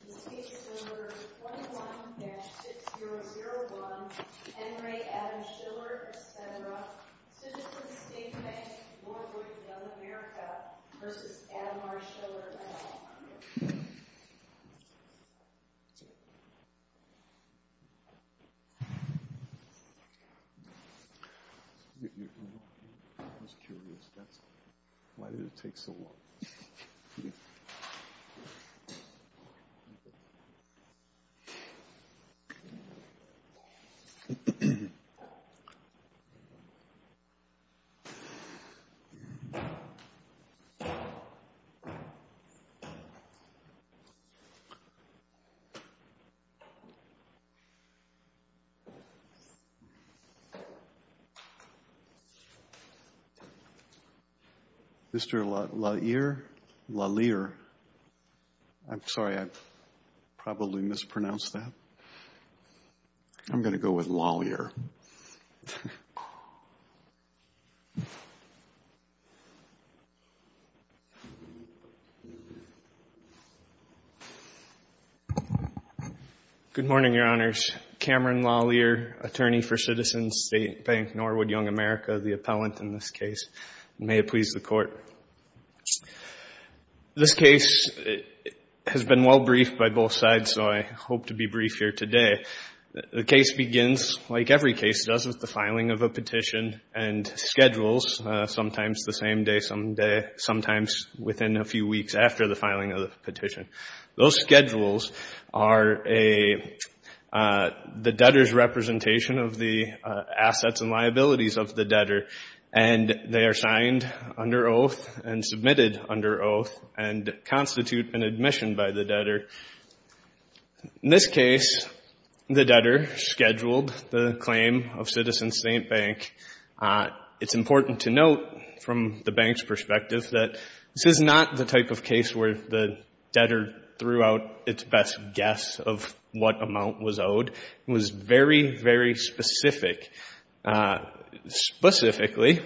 I was curious, why did it take so long? Thank you. Mr. Lallier. I'm sorry, I probably mispronounced that. I'm going to go with Lallier. Good morning, Your Honors. Cameron Lallier, attorney for Citizens State Bank Norwood Young America, the appellant in this case. May it please the Court. This case has been well-briefed by both sides, so I hope to be brief here today. The case begins, like every case does, with the filing of a petition and schedules, sometimes the same day some day, sometimes within a few weeks after the filing of the petition. Those schedules are the debtor's representation of the assets and liabilities of the debtor, and they are signed under oath and submitted under oath and constitute an admission by the debtor. In this case, the debtor scheduled the claim of Citizens State Bank. It's important to note, from the bank's perspective, that this is not the type of case where the debtor threw out its best guess of what amount was owed. It was very, very specific. Specifically,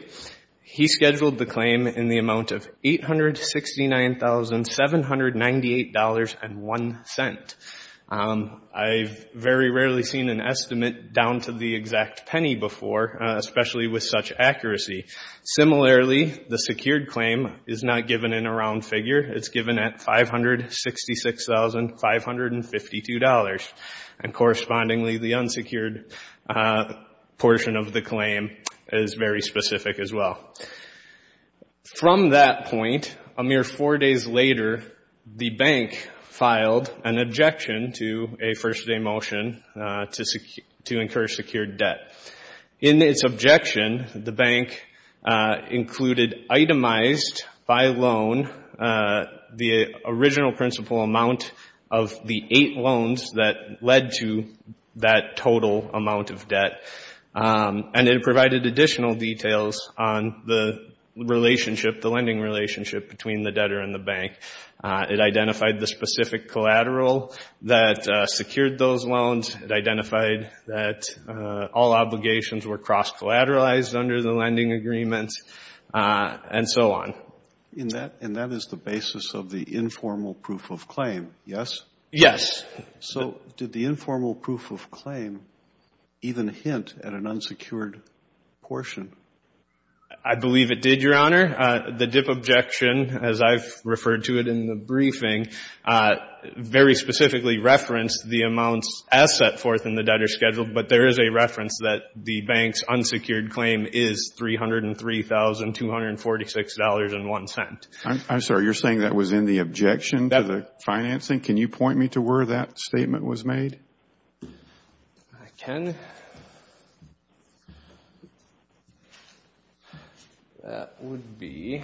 he scheduled the claim in the amount of $869,798.01. I've very rarely seen an estimate down to the exact penny before, especially with such accuracy. Similarly, the secured claim is not given in a round figure. It's given at $566,552. And correspondingly, the unsecured portion of the claim is very specific as well. From that point, a mere four days later, the bank filed an objection to a first-day motion to incur secured debt. In its objection, the bank included itemized by loan the original principal amount of the eight loans that led to that total amount of debt. And it provided additional details on the lending relationship between the debtor and the bank. It identified the specific collateral that secured those loans. It identified that all obligations were cross-collateralized under the lending agreements, and so on. And that is the basis of the informal proof of claim, yes? Yes. So did the informal proof of claim even hint at an unsecured portion? I believe it did, Your Honor. The dip objection, as I've referred to it in the briefing, very specifically referenced the amounts as set forth in the debtor schedule, but there is a reference that the bank's unsecured claim is $303,246.01. I'm sorry. You're saying that was in the objection to the financing? Can you point me to where that statement was made? I can. That would be...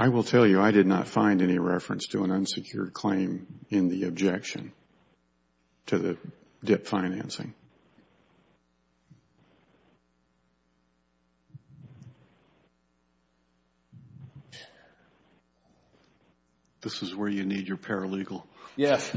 I will tell you, I did not find any reference to an unsecured claim in the objection to the debt financing. This is where you need your paralegal. Yes.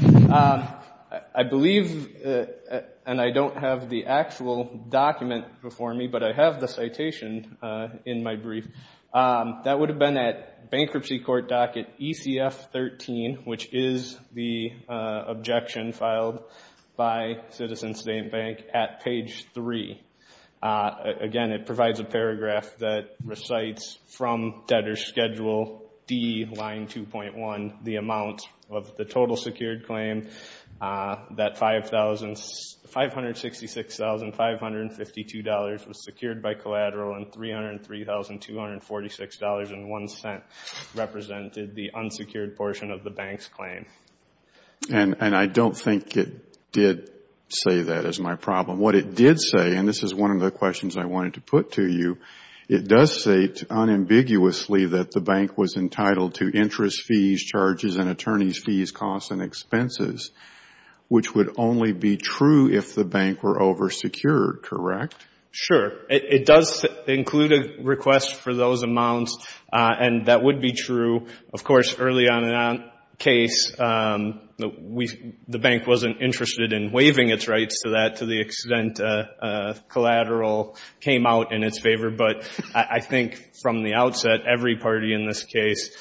I believe, and I don't have the actual document before me, but I have the citation in my brief. That would have been at Bankruptcy Court Docket ECF-13, which is the objection filed by Citizen State Bank at page 3. Again, it provides a paragraph that recites from debtor schedule D, line 2.1, the amount of the total secured claim that $566,552 was secured by collateral and $303,246.01 represented the unsecured portion of the bank's claim. And I don't think it did say that is my problem. What it did say, and this is one of the questions I wanted to put to you, it does state unambiguously that the bank was entitled to interest fees, charges, and attorney's fees, costs, and expenses, which would only be true if the bank were oversecured, correct? Sure. It does include a request for those amounts, and that would be true. Of course, early on in that case, the bank wasn't interested in waiving its rights to that to the extent collateral came out in its favor. But I think from the outset, every party in this case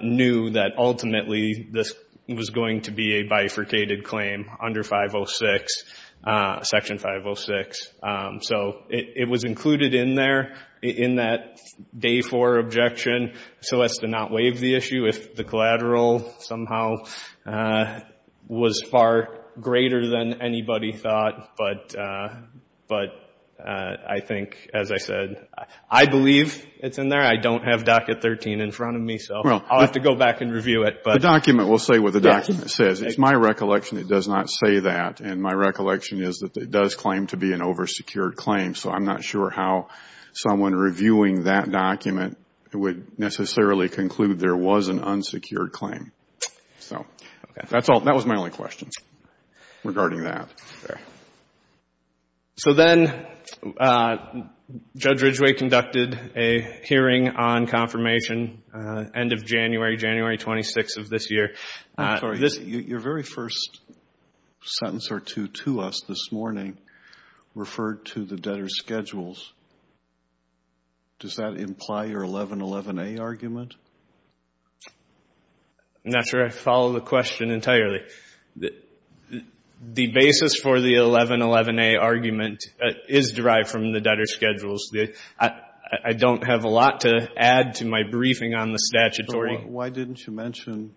knew that ultimately this was going to be a bifurcated claim under Section 506. So it was included in there in that day four objection, so as to not waive the issue if the collateral somehow was far greater than anybody thought. But I think, as I said, I believe it's in there. I don't have Docket 13 in front of me, so I'll have to go back and review it. The document will say what the document says. It's my recollection it does not say that. And my recollection is that it does claim to be an oversecured claim. So I'm not sure how someone reviewing that document would necessarily conclude there was an unsecured claim. So that was my only question regarding that. So then Judge Ridgway conducted a hearing on confirmation end of January, January 26th of this year. Your very first sentence or two to us this morning referred to the debtor's schedules. Does that imply your 1111A argument? I'm not sure I follow the question entirely. The basis for the 1111A argument is derived from the debtor's schedules. I don't have a lot to add to my briefing on the statutory. Why didn't you mention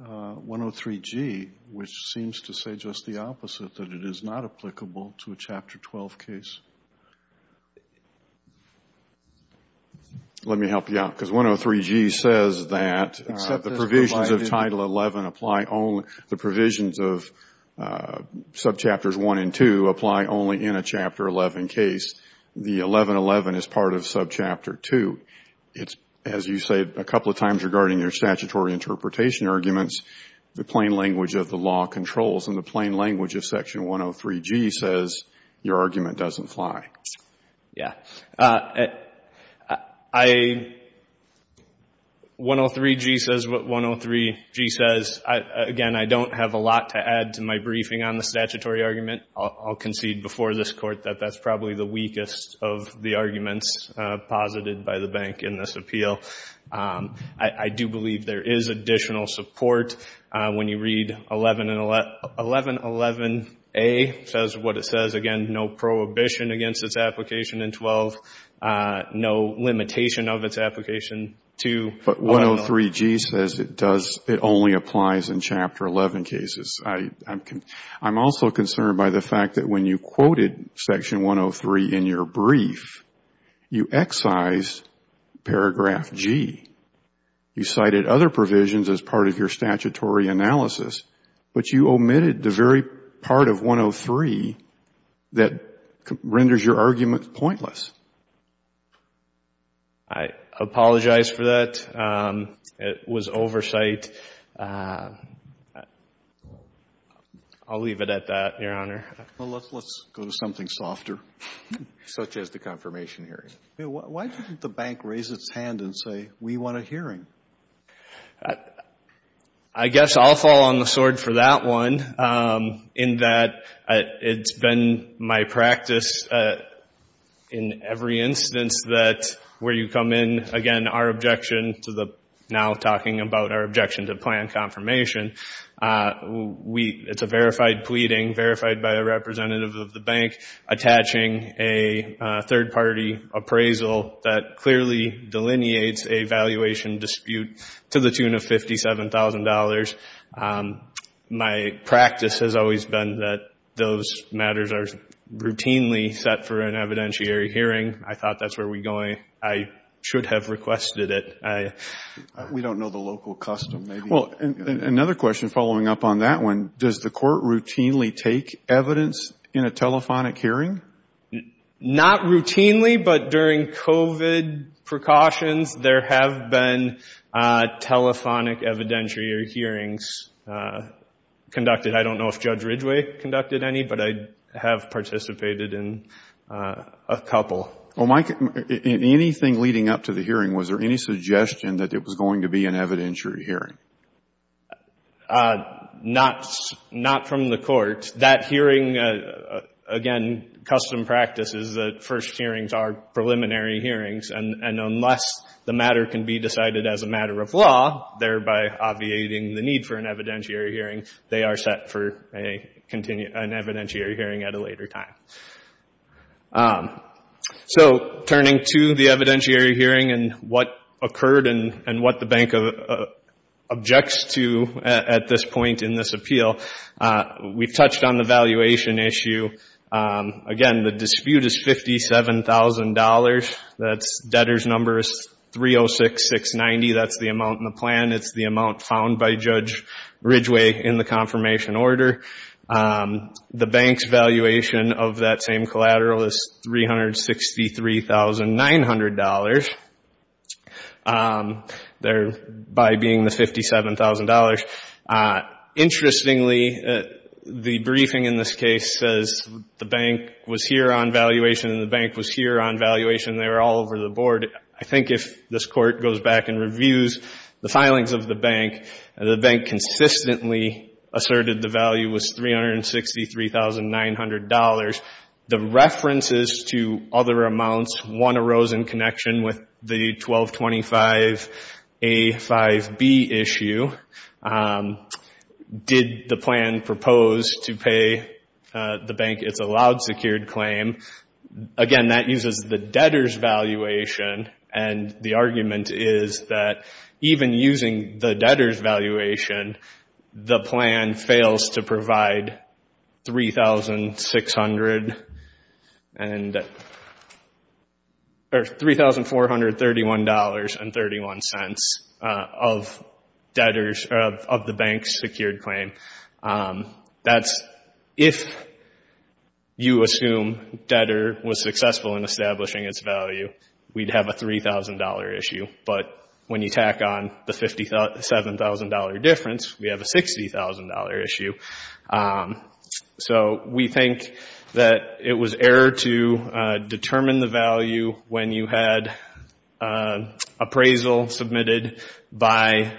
103G, which seems to say just the opposite, that it is not applicable to a Chapter 12 case? Let me help you out, because 103G says that the provisions of Title 11 apply only, the provisions of subchapters 1 and 2 apply only in a Chapter 11 case. The 1111 is part of subchapter 2. It's, as you say a couple of times regarding your statutory interpretation arguments, the plain language of the law controls. And the plain language of Section 103G says your argument doesn't fly. Yes. 103G says what 103G says. Again, I don't have a lot to add to my briefing on the statutory argument. I'll concede before this Court that that's probably the weakest of the arguments posited by the bank in this appeal. I do believe there is additional support. When you read 1111A, it says what it says. Again, no prohibition against its application in 12, no limitation of its application to 103G. But 103G says it does, it only applies in Chapter 11 cases. I'm also concerned by the fact that when you quoted Section 103 in your brief, you excised paragraph G. You cited other provisions as part of your statutory analysis, but you omitted the very part of 103 that renders your argument pointless. I apologize for that. It was oversight. I'll leave it at that, Your Honor. Well, let's go to something softer, such as the confirmation hearing. Why didn't the bank raise its hand and say, we want a hearing? I guess I'll fall on the sword for that one, in that it's been my practice in every instance that where you come in, again, our objection to the now talking about our objection to plan confirmation, it's a verified pleading, verified by a representative of the bank, attaching a third party appraisal that clearly delineates a valuation dispute to the tune of $57,000. My practice has always been that those matters are routinely set for an evidentiary hearing. I thought that's where we're going. I should have requested it. We don't know the local custom. Well, another question following up on that one, does the court routinely take evidence in a telephonic hearing? Not routinely, but during COVID precautions, there have been telephonic evidentiary hearings conducted. I don't know if Judge Ridgway conducted any, but I have participated in a couple. Well, Mike, in anything leading up to the hearing, was there any suggestion that it was going to be an evidentiary hearing? Not from the court. That hearing, again, custom practice is that first hearings are preliminary hearings, and unless the matter can be decided as a matter of law, thereby obviating the need for an evidentiary hearing, they are set for an evidentiary hearing at a later time. Turning to the evidentiary hearing and what occurred and what the bank objects to at this point in this appeal, we've touched on the valuation issue. Again, the dispute is $57,000. That debtor's number is 306690. That's the amount in the plan. It's the amount found by Judge Ridgway in the confirmation order. The bank's valuation of that same collateral is $363,900, thereby being the $57,000. Interestingly, the briefing in this case says the bank was here on valuation and the bank was here on valuation and they were all over the board. I think if this court goes back and reviews the filings of the bank, the bank consistently asserted the value was $363,900. The references to other amounts, one arose in connection with the 1225A-5B issue. Did the plan propose to pay the bank its allowed secured claim? Again, that uses the debtor's valuation, and the argument is that even using the debtor's valuation, the plan fails to provide $3,431.31 of the bank's secured claim. That's if you assume debtor was successful in establishing its value, we'd have a $3,000 issue. But when you tack on the $57,000 difference, we have a $60,000 issue. We think that it was error to determine the value when you had appraisal submitted by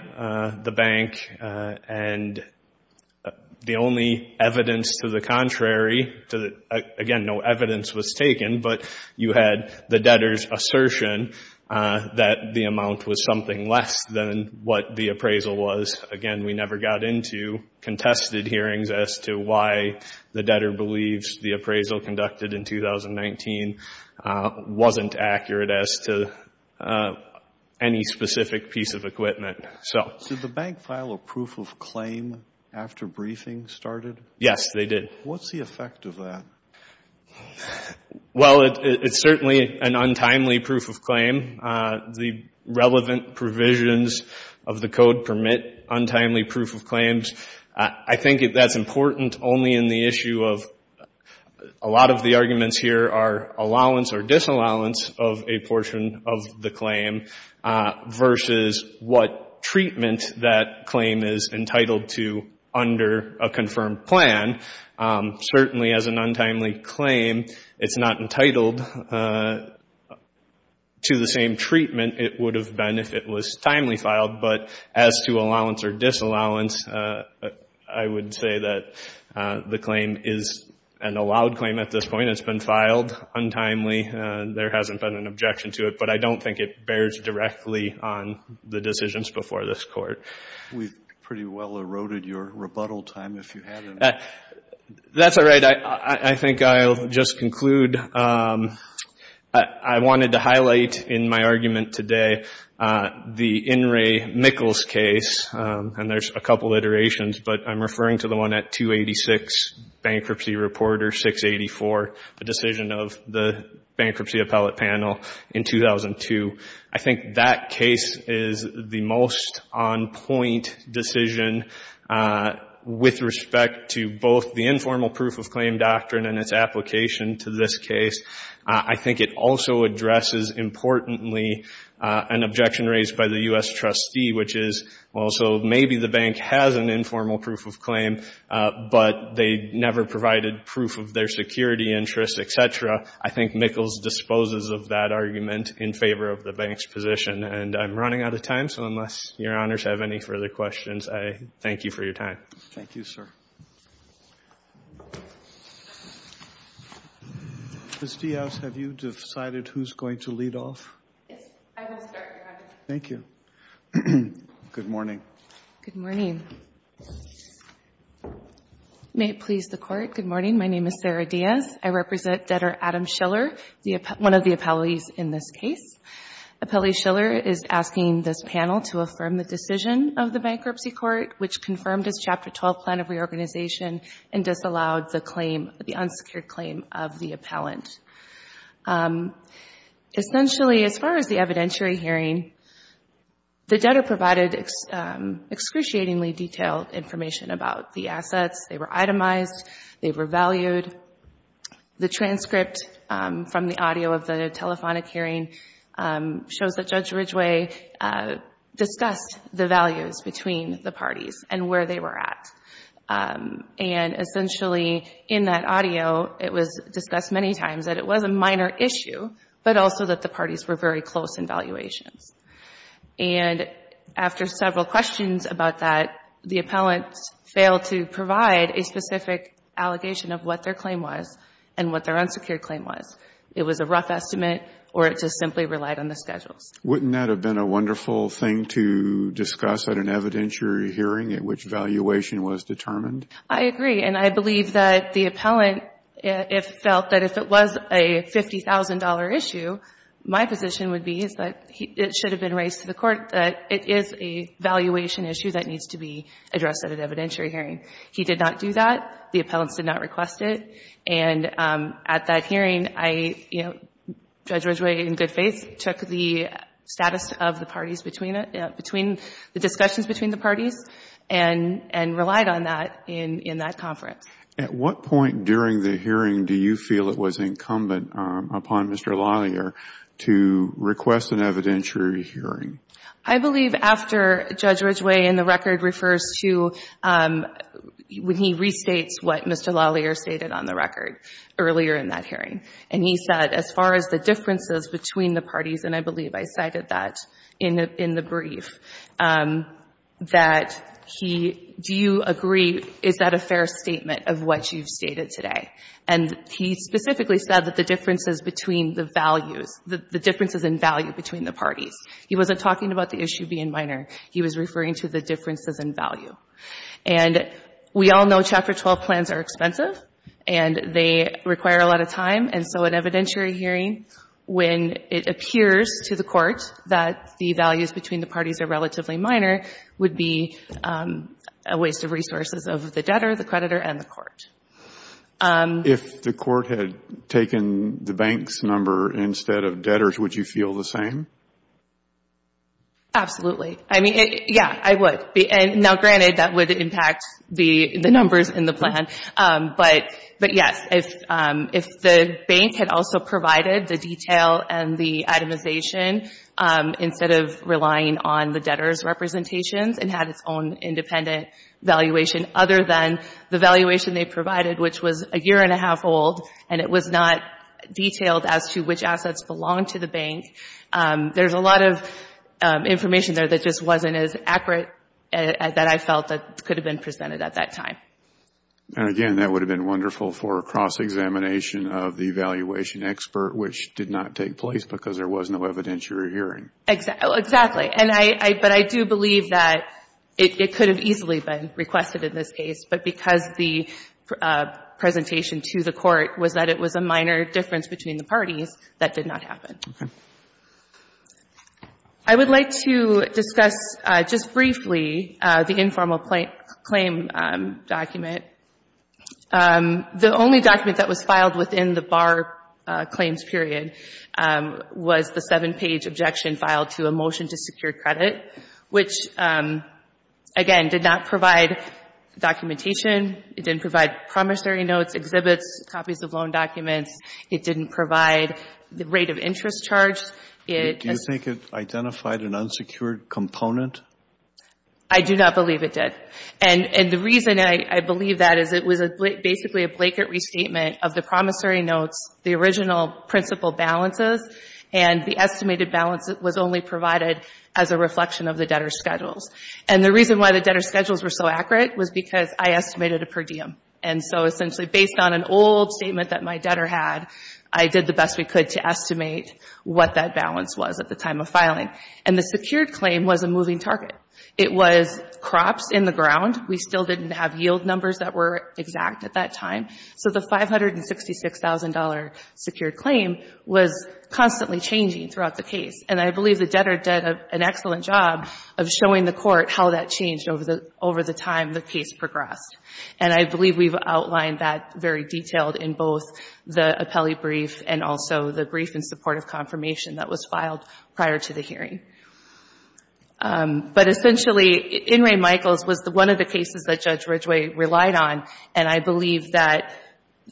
the bank and the only evidence to the contrary. Again, no evidence was taken, but you had the debtor's assertion that the amount was something less than what the appraisal was. Again, we never got into contested hearings as to why the debtor believes the appraisal conducted in 2019 wasn't accurate as to any specific piece of equipment. Did the bank file a proof of claim after briefing started? Yes, they did. What's the effect of that? Well, it's certainly an untimely proof of claim. The relevant provisions of the code permit untimely proof of claims. I think that's important only in the issue of a lot of the arguments here are allowance or disallowance of a portion of the claim versus what treatment that claim is entitled to under a confirmed plan. Certainly as an untimely claim, it's not entitled to the same treatment it would have been if it was timely filed, but as to allowance or disallowance, I would say that the claim is an allowed claim at this point. It's been filed untimely. There hasn't been an objection to it, but I don't think it bears directly on the decisions before this Court. We've pretty well eroded your rebuttal time if you haven't. That's all right. I think I'll just conclude. I wanted to highlight in my argument today the In re. Mickels case, and there's a couple of iterations, but I'm referring to the one at 286 Bankruptcy Reporter 684, the decision of the Bankruptcy Appellate Panel in 2002. I think that case is the most on-point decision with respect to both the informal proof of claim doctrine and its application to this case. I think it also addresses, importantly, an objection raised by the U.S. trustee, which is, well, so maybe the bank has an informal proof of claim, but they never provided proof of their security interests, et cetera. I think Mickels disposes of that argument in favor of the bank's position. And I'm running out of time, so unless your honors have any further questions, I thank you for your time. Thank you, sir. Ms. Diaz, have you decided who's going to lead off? Yes, I will start, Your Honor. Thank you. Good morning. Good morning. May it please the Court, good morning. My name is Sarah Diaz. I represent Debtor Adam Schiller, one of the appellees in this case. Appellee Schiller is asking this panel to affirm the decision of the Bankruptcy Court, which confirmed his Chapter 12 plan of reorganization and disallowed the claim, the unsecured claim of the appellant. Essentially, as far as the evidentiary hearing, the debtor provided excruciatingly detailed information about the assets. They were itemized. They were valued. The transcript from the audio of the telephonic hearing shows that Judge Ridgeway discussed the values between the parties and where they were at. And essentially, in that audio, it was discussed many times that it was a minor issue, but also that the parties were very close in valuations. And after several questions about that, the appellants failed to provide a specific allegation of what their claim was and what their unsecured claim was. It was a rough estimate, or it just simply relied on the schedules. Wouldn't that have been a wonderful thing to discuss at an evidentiary hearing at which valuation was determined? I agree. And I believe that the appellant felt that if it was a $50,000 issue, my position would be that it should have been raised to the court that it is a valuation issue that needs to be addressed at an evidentiary hearing. He did not do that. The appellants did not request it. And at that hearing, I, you know, Judge Ridgeway, in good faith, took the status of the parties between the discussions between the parties and relied on that in that conference. At what point during the hearing do you feel it was incumbent upon Mr. Lallier to request an evidentiary hearing? I believe after Judge Ridgeway in the record refers to when he restates what Mr. Lallier stated on the record earlier in that hearing. And he said as far as the differences between the parties, and I believe I cited that in the brief, that he, do you agree, is that a fair statement of what you've stated today? And he specifically said that the differences between the values, the differences in value between the parties. He wasn't talking about the issue being minor. He was referring to the differences in value. And we all know Chapter 12 plans are expensive, and they require a lot of time. And so an evidentiary hearing, when it appears to the court that the values between the parties are relatively minor, would be a waste of resources of the debtor, the creditor, and the court. If the court had taken the bank's number instead of debtors, would you feel the same? Absolutely. I mean, yeah, I would. Now, granted, that would impact the numbers in the plan. But, yes, if the bank had also provided the detail and the itemization instead of relying on the debtor's representations and had its own independent valuation other than the valuation they provided, which was a year and a half old, and it was not detailed as to which assets belonged to the bank, there's a lot of information there that just wasn't as accurate that I felt could have been presented at that time. And, again, that would have been wonderful for a cross-examination of the evaluation expert, which did not take place because there was no evidentiary hearing. Exactly. But I do believe that it could have easily been requested in this case. But because the presentation to the court was that it was a minor difference between the parties, that did not happen. Okay. I would like to discuss just briefly the informal claim document. The only document that was filed within the bar claims period was the seven-page objection filed to a motion to secure credit, which, again, did not provide documentation. It didn't provide promissory notes, exhibits, copies of loan documents. It didn't provide the rate of interest charged. Do you think it identified an unsecured component? I do not believe it did. And the reason I believe that is it was basically a blanket restatement of the promissory notes, the original principal balances, and the estimated balance that was only provided as a reflection of the debtor's schedules. And the reason why the debtor's schedules were so accurate was because I estimated a per diem. And so, essentially, based on an old statement that my debtor had, I did the best we could to estimate what that balance was at the time of filing. And the secured claim was a moving target. It was crops in the ground. We still didn't have yield numbers that were exact at that time. So the $566,000 secured claim was constantly changing throughout the case. And I believe the debtor did an excellent job of showing the court how that changed over the time the case progressed. And I believe we've outlined that very detailed in both the appellee brief and also the brief in support of confirmation that was filed prior to the hearing. But, essentially, In re Michaels was one of the cases that Judge Ridgway relied on, and I believe that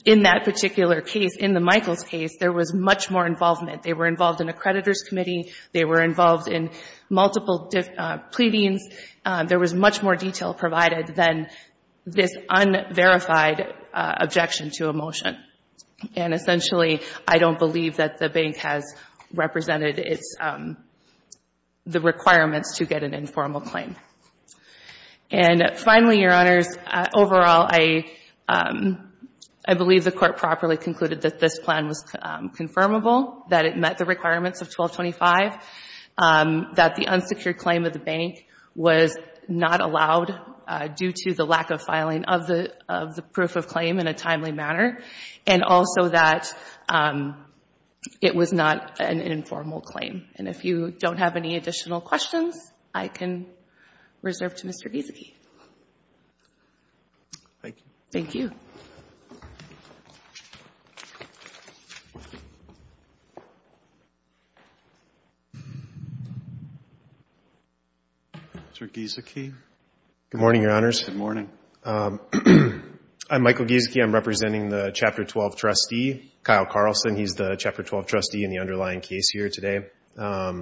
in that particular case, in the Michaels case, there was much more involvement. They were involved in a creditor's committee. They were involved in multiple pleadings. There was much more detail provided than this unverified objection to a motion. And, essentially, I don't believe that the bank has represented its the requirements to get an informal claim. And, finally, Your Honors, overall, I believe the court properly concluded that this plan was confirmable, that it met the requirements of 1225, that the unsecured claim of the bank was not allowed due to the lack of filing of the proof of claim in a timely manner, and also that it was not an informal claim. And if you don't have any additional questions, I can reserve to Mr. Giesecke. Thank you. Thank you. Mr. Giesecke. Good morning, Your Honors. Good morning. I'm Michael Giesecke. I'm representing the Chapter 12 trustee, Kyle Carlson. He's the Chapter 12 trustee in the underlying case here today. I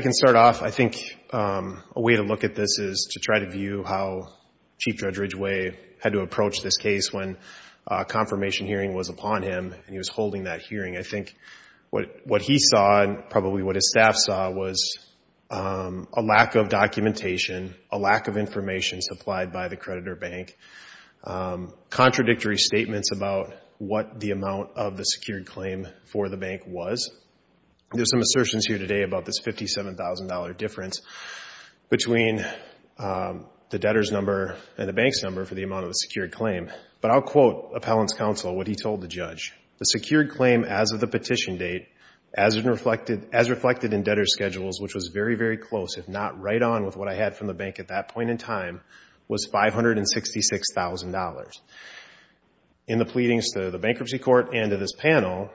can start off. I think a way to look at this is to try to view how Chief Judge Ridgway had to approach this case when a confirmation hearing was upon him, and he was holding that hearing. I think what he saw and probably what his staff saw was a lack of documentation, a lack of information supplied by the creditor bank, contradictory statements about what the amount of the secured claim for the bank was. There's some assertions here today about this $57,000 difference between the debtor's number and the bank's number for the amount of the secured claim, but I'll quote Appellant's counsel, what he told the judge. The secured claim as of the petition date, as reflected in debtor's schedules, which was very, very close, if not right on with what I had from the bank at that point in time, was $566,000. In the pleadings to the bankruptcy court and to this panel,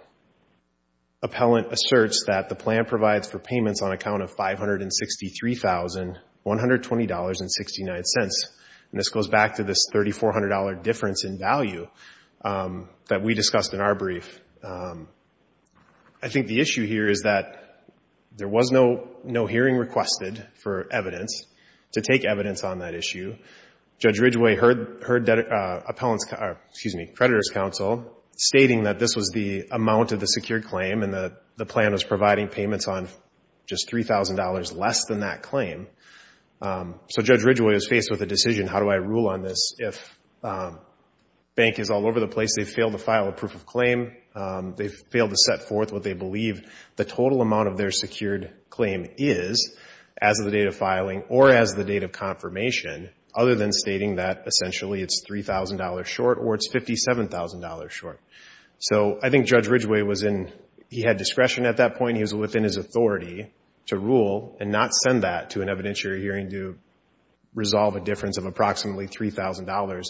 Appellant asserts that the plan provides for payments on account of $563,120.69. This goes back to this $3,400 difference in value that we discussed in our brief. I think the issue here is that there was no hearing requested for evidence to take evidence on that issue. Judge Ridgway heard creditor's counsel stating that this was the amount of the secured claim and that the plan was providing payments on just $3,000 less than that claim. Judge Ridgway was faced with a decision, how do I rule on this? If bank is all over the place, they fail to file a proof of claim, they fail to set forth what they believe the total amount of their secured claim is as of the date of filing or as of the date of confirmation, other than stating that essentially it's $3,000 short or it's $57,000 short. I think Judge Ridgway had discretion at that point. He was within his authority to rule and not send that to an evidentiary hearing to resolve a difference of approximately $3,000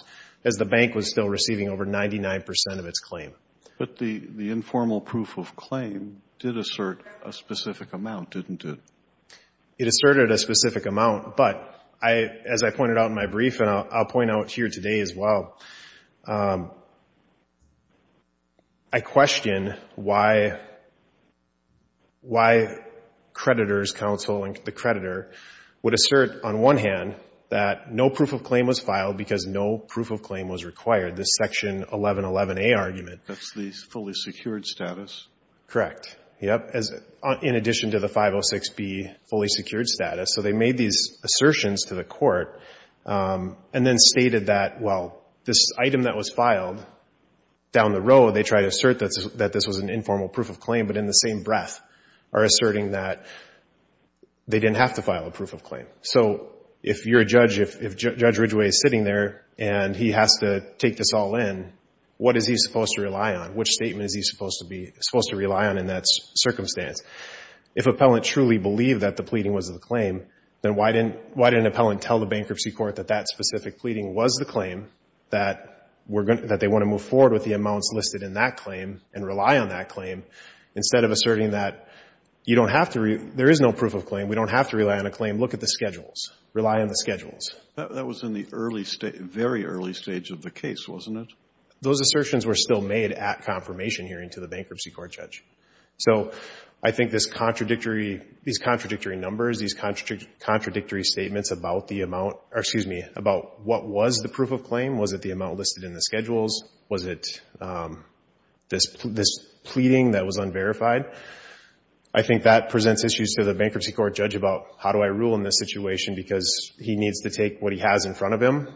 as the bank was still receiving over 99% of its claim. But the informal proof of claim did assert a specific amount, didn't it? It asserted a specific amount, but as I pointed out in my brief and I'll point out here today as well, I question why creditors, counsel and the creditor, would assert on one hand that no proof of claim was filed because no proof of claim was required, this Section 1111A argument. That's the fully secured status. Correct. In addition to the 506B fully secured status. So they made these assertions to the court and then stated that, well, this item that was filed down the road, they tried to assert that this was an informal proof of claim, but in the same breath are asserting that they didn't have to file a proof of claim. So if you're a judge, if Judge Ridgway is sitting there and he has to take this all in, what is he supposed to rely on? Which statement is he supposed to rely on in that circumstance? If appellant truly believed that the pleading was the claim, then why didn't appellant tell the bankruptcy court that that specific pleading was the claim, that they want to move forward with the amounts listed in that claim and rely on that claim instead of asserting that you don't have to, there is no proof of claim, we don't have to rely on a claim, look at the schedules, rely on the schedules. That was in the very early stage of the case, wasn't it? Those assertions were still made at confirmation hearing to the bankruptcy court judge. So I think these contradictory numbers, these contradictory statements about the amount, or excuse me, about what was the proof of claim, was it the amount listed in the schedules, was it this pleading that was unverified, I think that presents issues to the bankruptcy court judge about how do I rule in this situation because he needs to take what he has in front of him.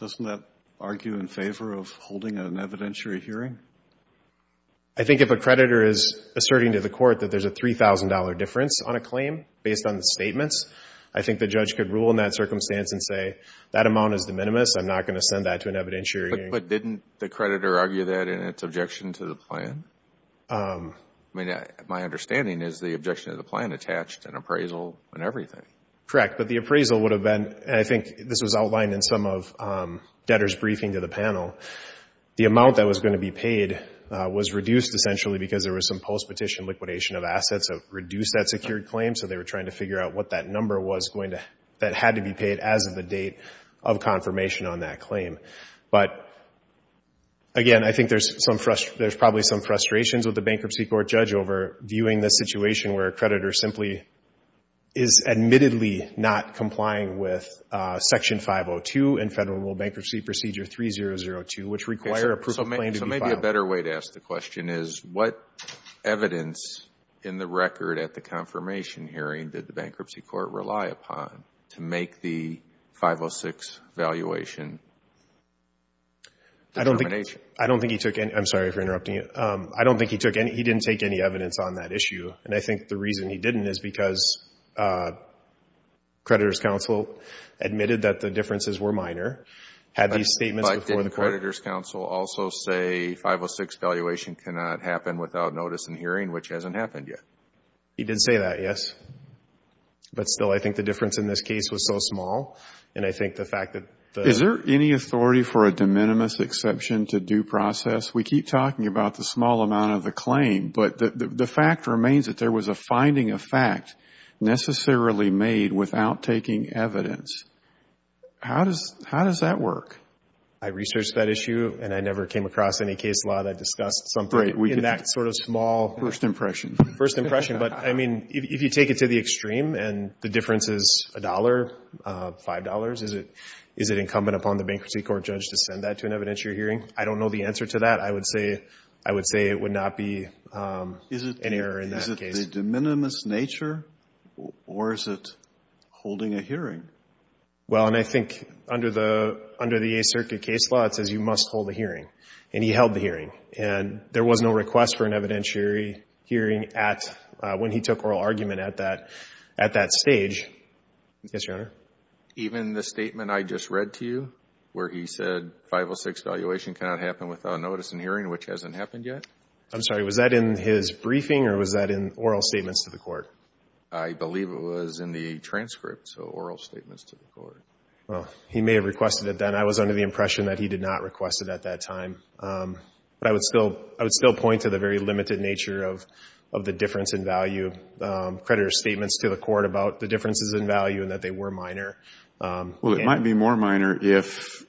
Doesn't that argue in favor of holding an evidentiary hearing? I think if a creditor is asserting to the court that there's a $3,000 difference on a claim based on the statements, I think the judge could rule in that circumstance and say that amount is de minimis, I'm not going to send that to an evidentiary hearing. But didn't the creditor argue that in its objection to the plan? My understanding is the objection to the plan attached an appraisal and everything. Correct. But the appraisal would have been, and I think this was outlined in some of the documents, the amount that was going to be paid was reduced essentially because there was some post-petition liquidation of assets that reduced that secured claim, so they were trying to figure out what that number was that had to be paid as of the date of confirmation on that claim. But again, I think there's probably some frustrations with the bankruptcy court judge over viewing this situation where a creditor simply is admittedly not complying with Section 502 and Federal Rule Bankruptcy Procedure 3002, which require a proof of claim to be filed. So maybe a better way to ask the question is what evidence in the record at the confirmation hearing did the bankruptcy court rely upon to make the 506 valuation determination? I don't think he took any. I'm sorry for interrupting you. I don't think he took any. He didn't take any evidence on that issue, and I think the reason he didn't is statements before the court. 506 valuation cannot happen without notice and hearing, which hasn't happened yet. He didn't say that, yes. But still, I think the difference in this case was so small, and I think the fact that the... Is there any authority for a de minimis exception to due process? We keep talking about the small amount of the claim, but the fact remains that there was a finding of fact necessarily made without taking evidence. How does that work? I researched that issue, and I never came across any case law that discussed something in that sort of small... First impression. First impression. But, I mean, if you take it to the extreme and the difference is a dollar, $5, is it incumbent upon the bankruptcy court judge to send that to an evidentiary hearing? I don't know the answer to that. I would say it would not be an error in that case. Is it the de minimis nature, or is it holding a hearing? Well, and I think under the Eighth Circuit case law, it says you must hold a hearing, and he held the hearing. And there was no request for an evidentiary hearing when he took oral argument at that stage. Yes, Your Honor. Even the statement I just read to you, where he said 506 valuation cannot happen without notice and hearing, which hasn't happened yet? I'm sorry. Was that in his briefing, or was that in oral statements to the court? I believe it was in the transcript, so oral statements to the court. Well, he may have requested it then. I was under the impression that he did not request it at that time. But I would still point to the very limited nature of the difference in value creditor statements to the court about the differences in value and that they were minor. Well, it might be more minor if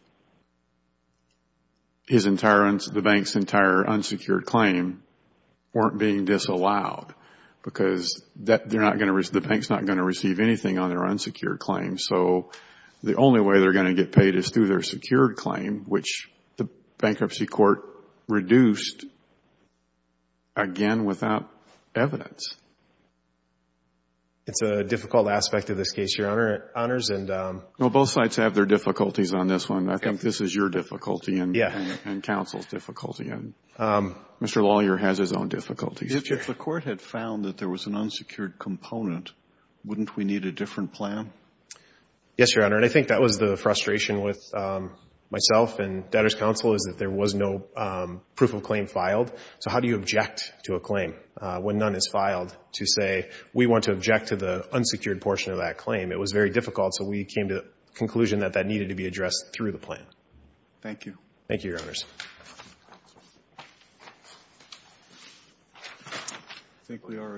the bank's entire unsecured claim weren't being disallowed, because the bank's not going to receive anything on their unsecured claim. So the only way they're going to get paid is through their secured claim, which the bankruptcy court reduced, again, without evidence. It's a difficult aspect of this case, Your Honor. Well, both sides have their difficulties on this one. I think this is your difficulty and counsel's difficulty. Mr. Lawyer has his own difficulties. If the court had found that there was an unsecured component, wouldn't we need a different plan? Yes, Your Honor, and I think that was the frustration with myself and debtor's counsel is that there was no proof of claim filed. So how do you object to a claim when none is filed to say we want to object to the unsecured portion of that claim? It was very difficult, so we came to the conclusion that that needed to be addressed through the plan. Thank you. Thank you, Your Honors. I think we are adjourned.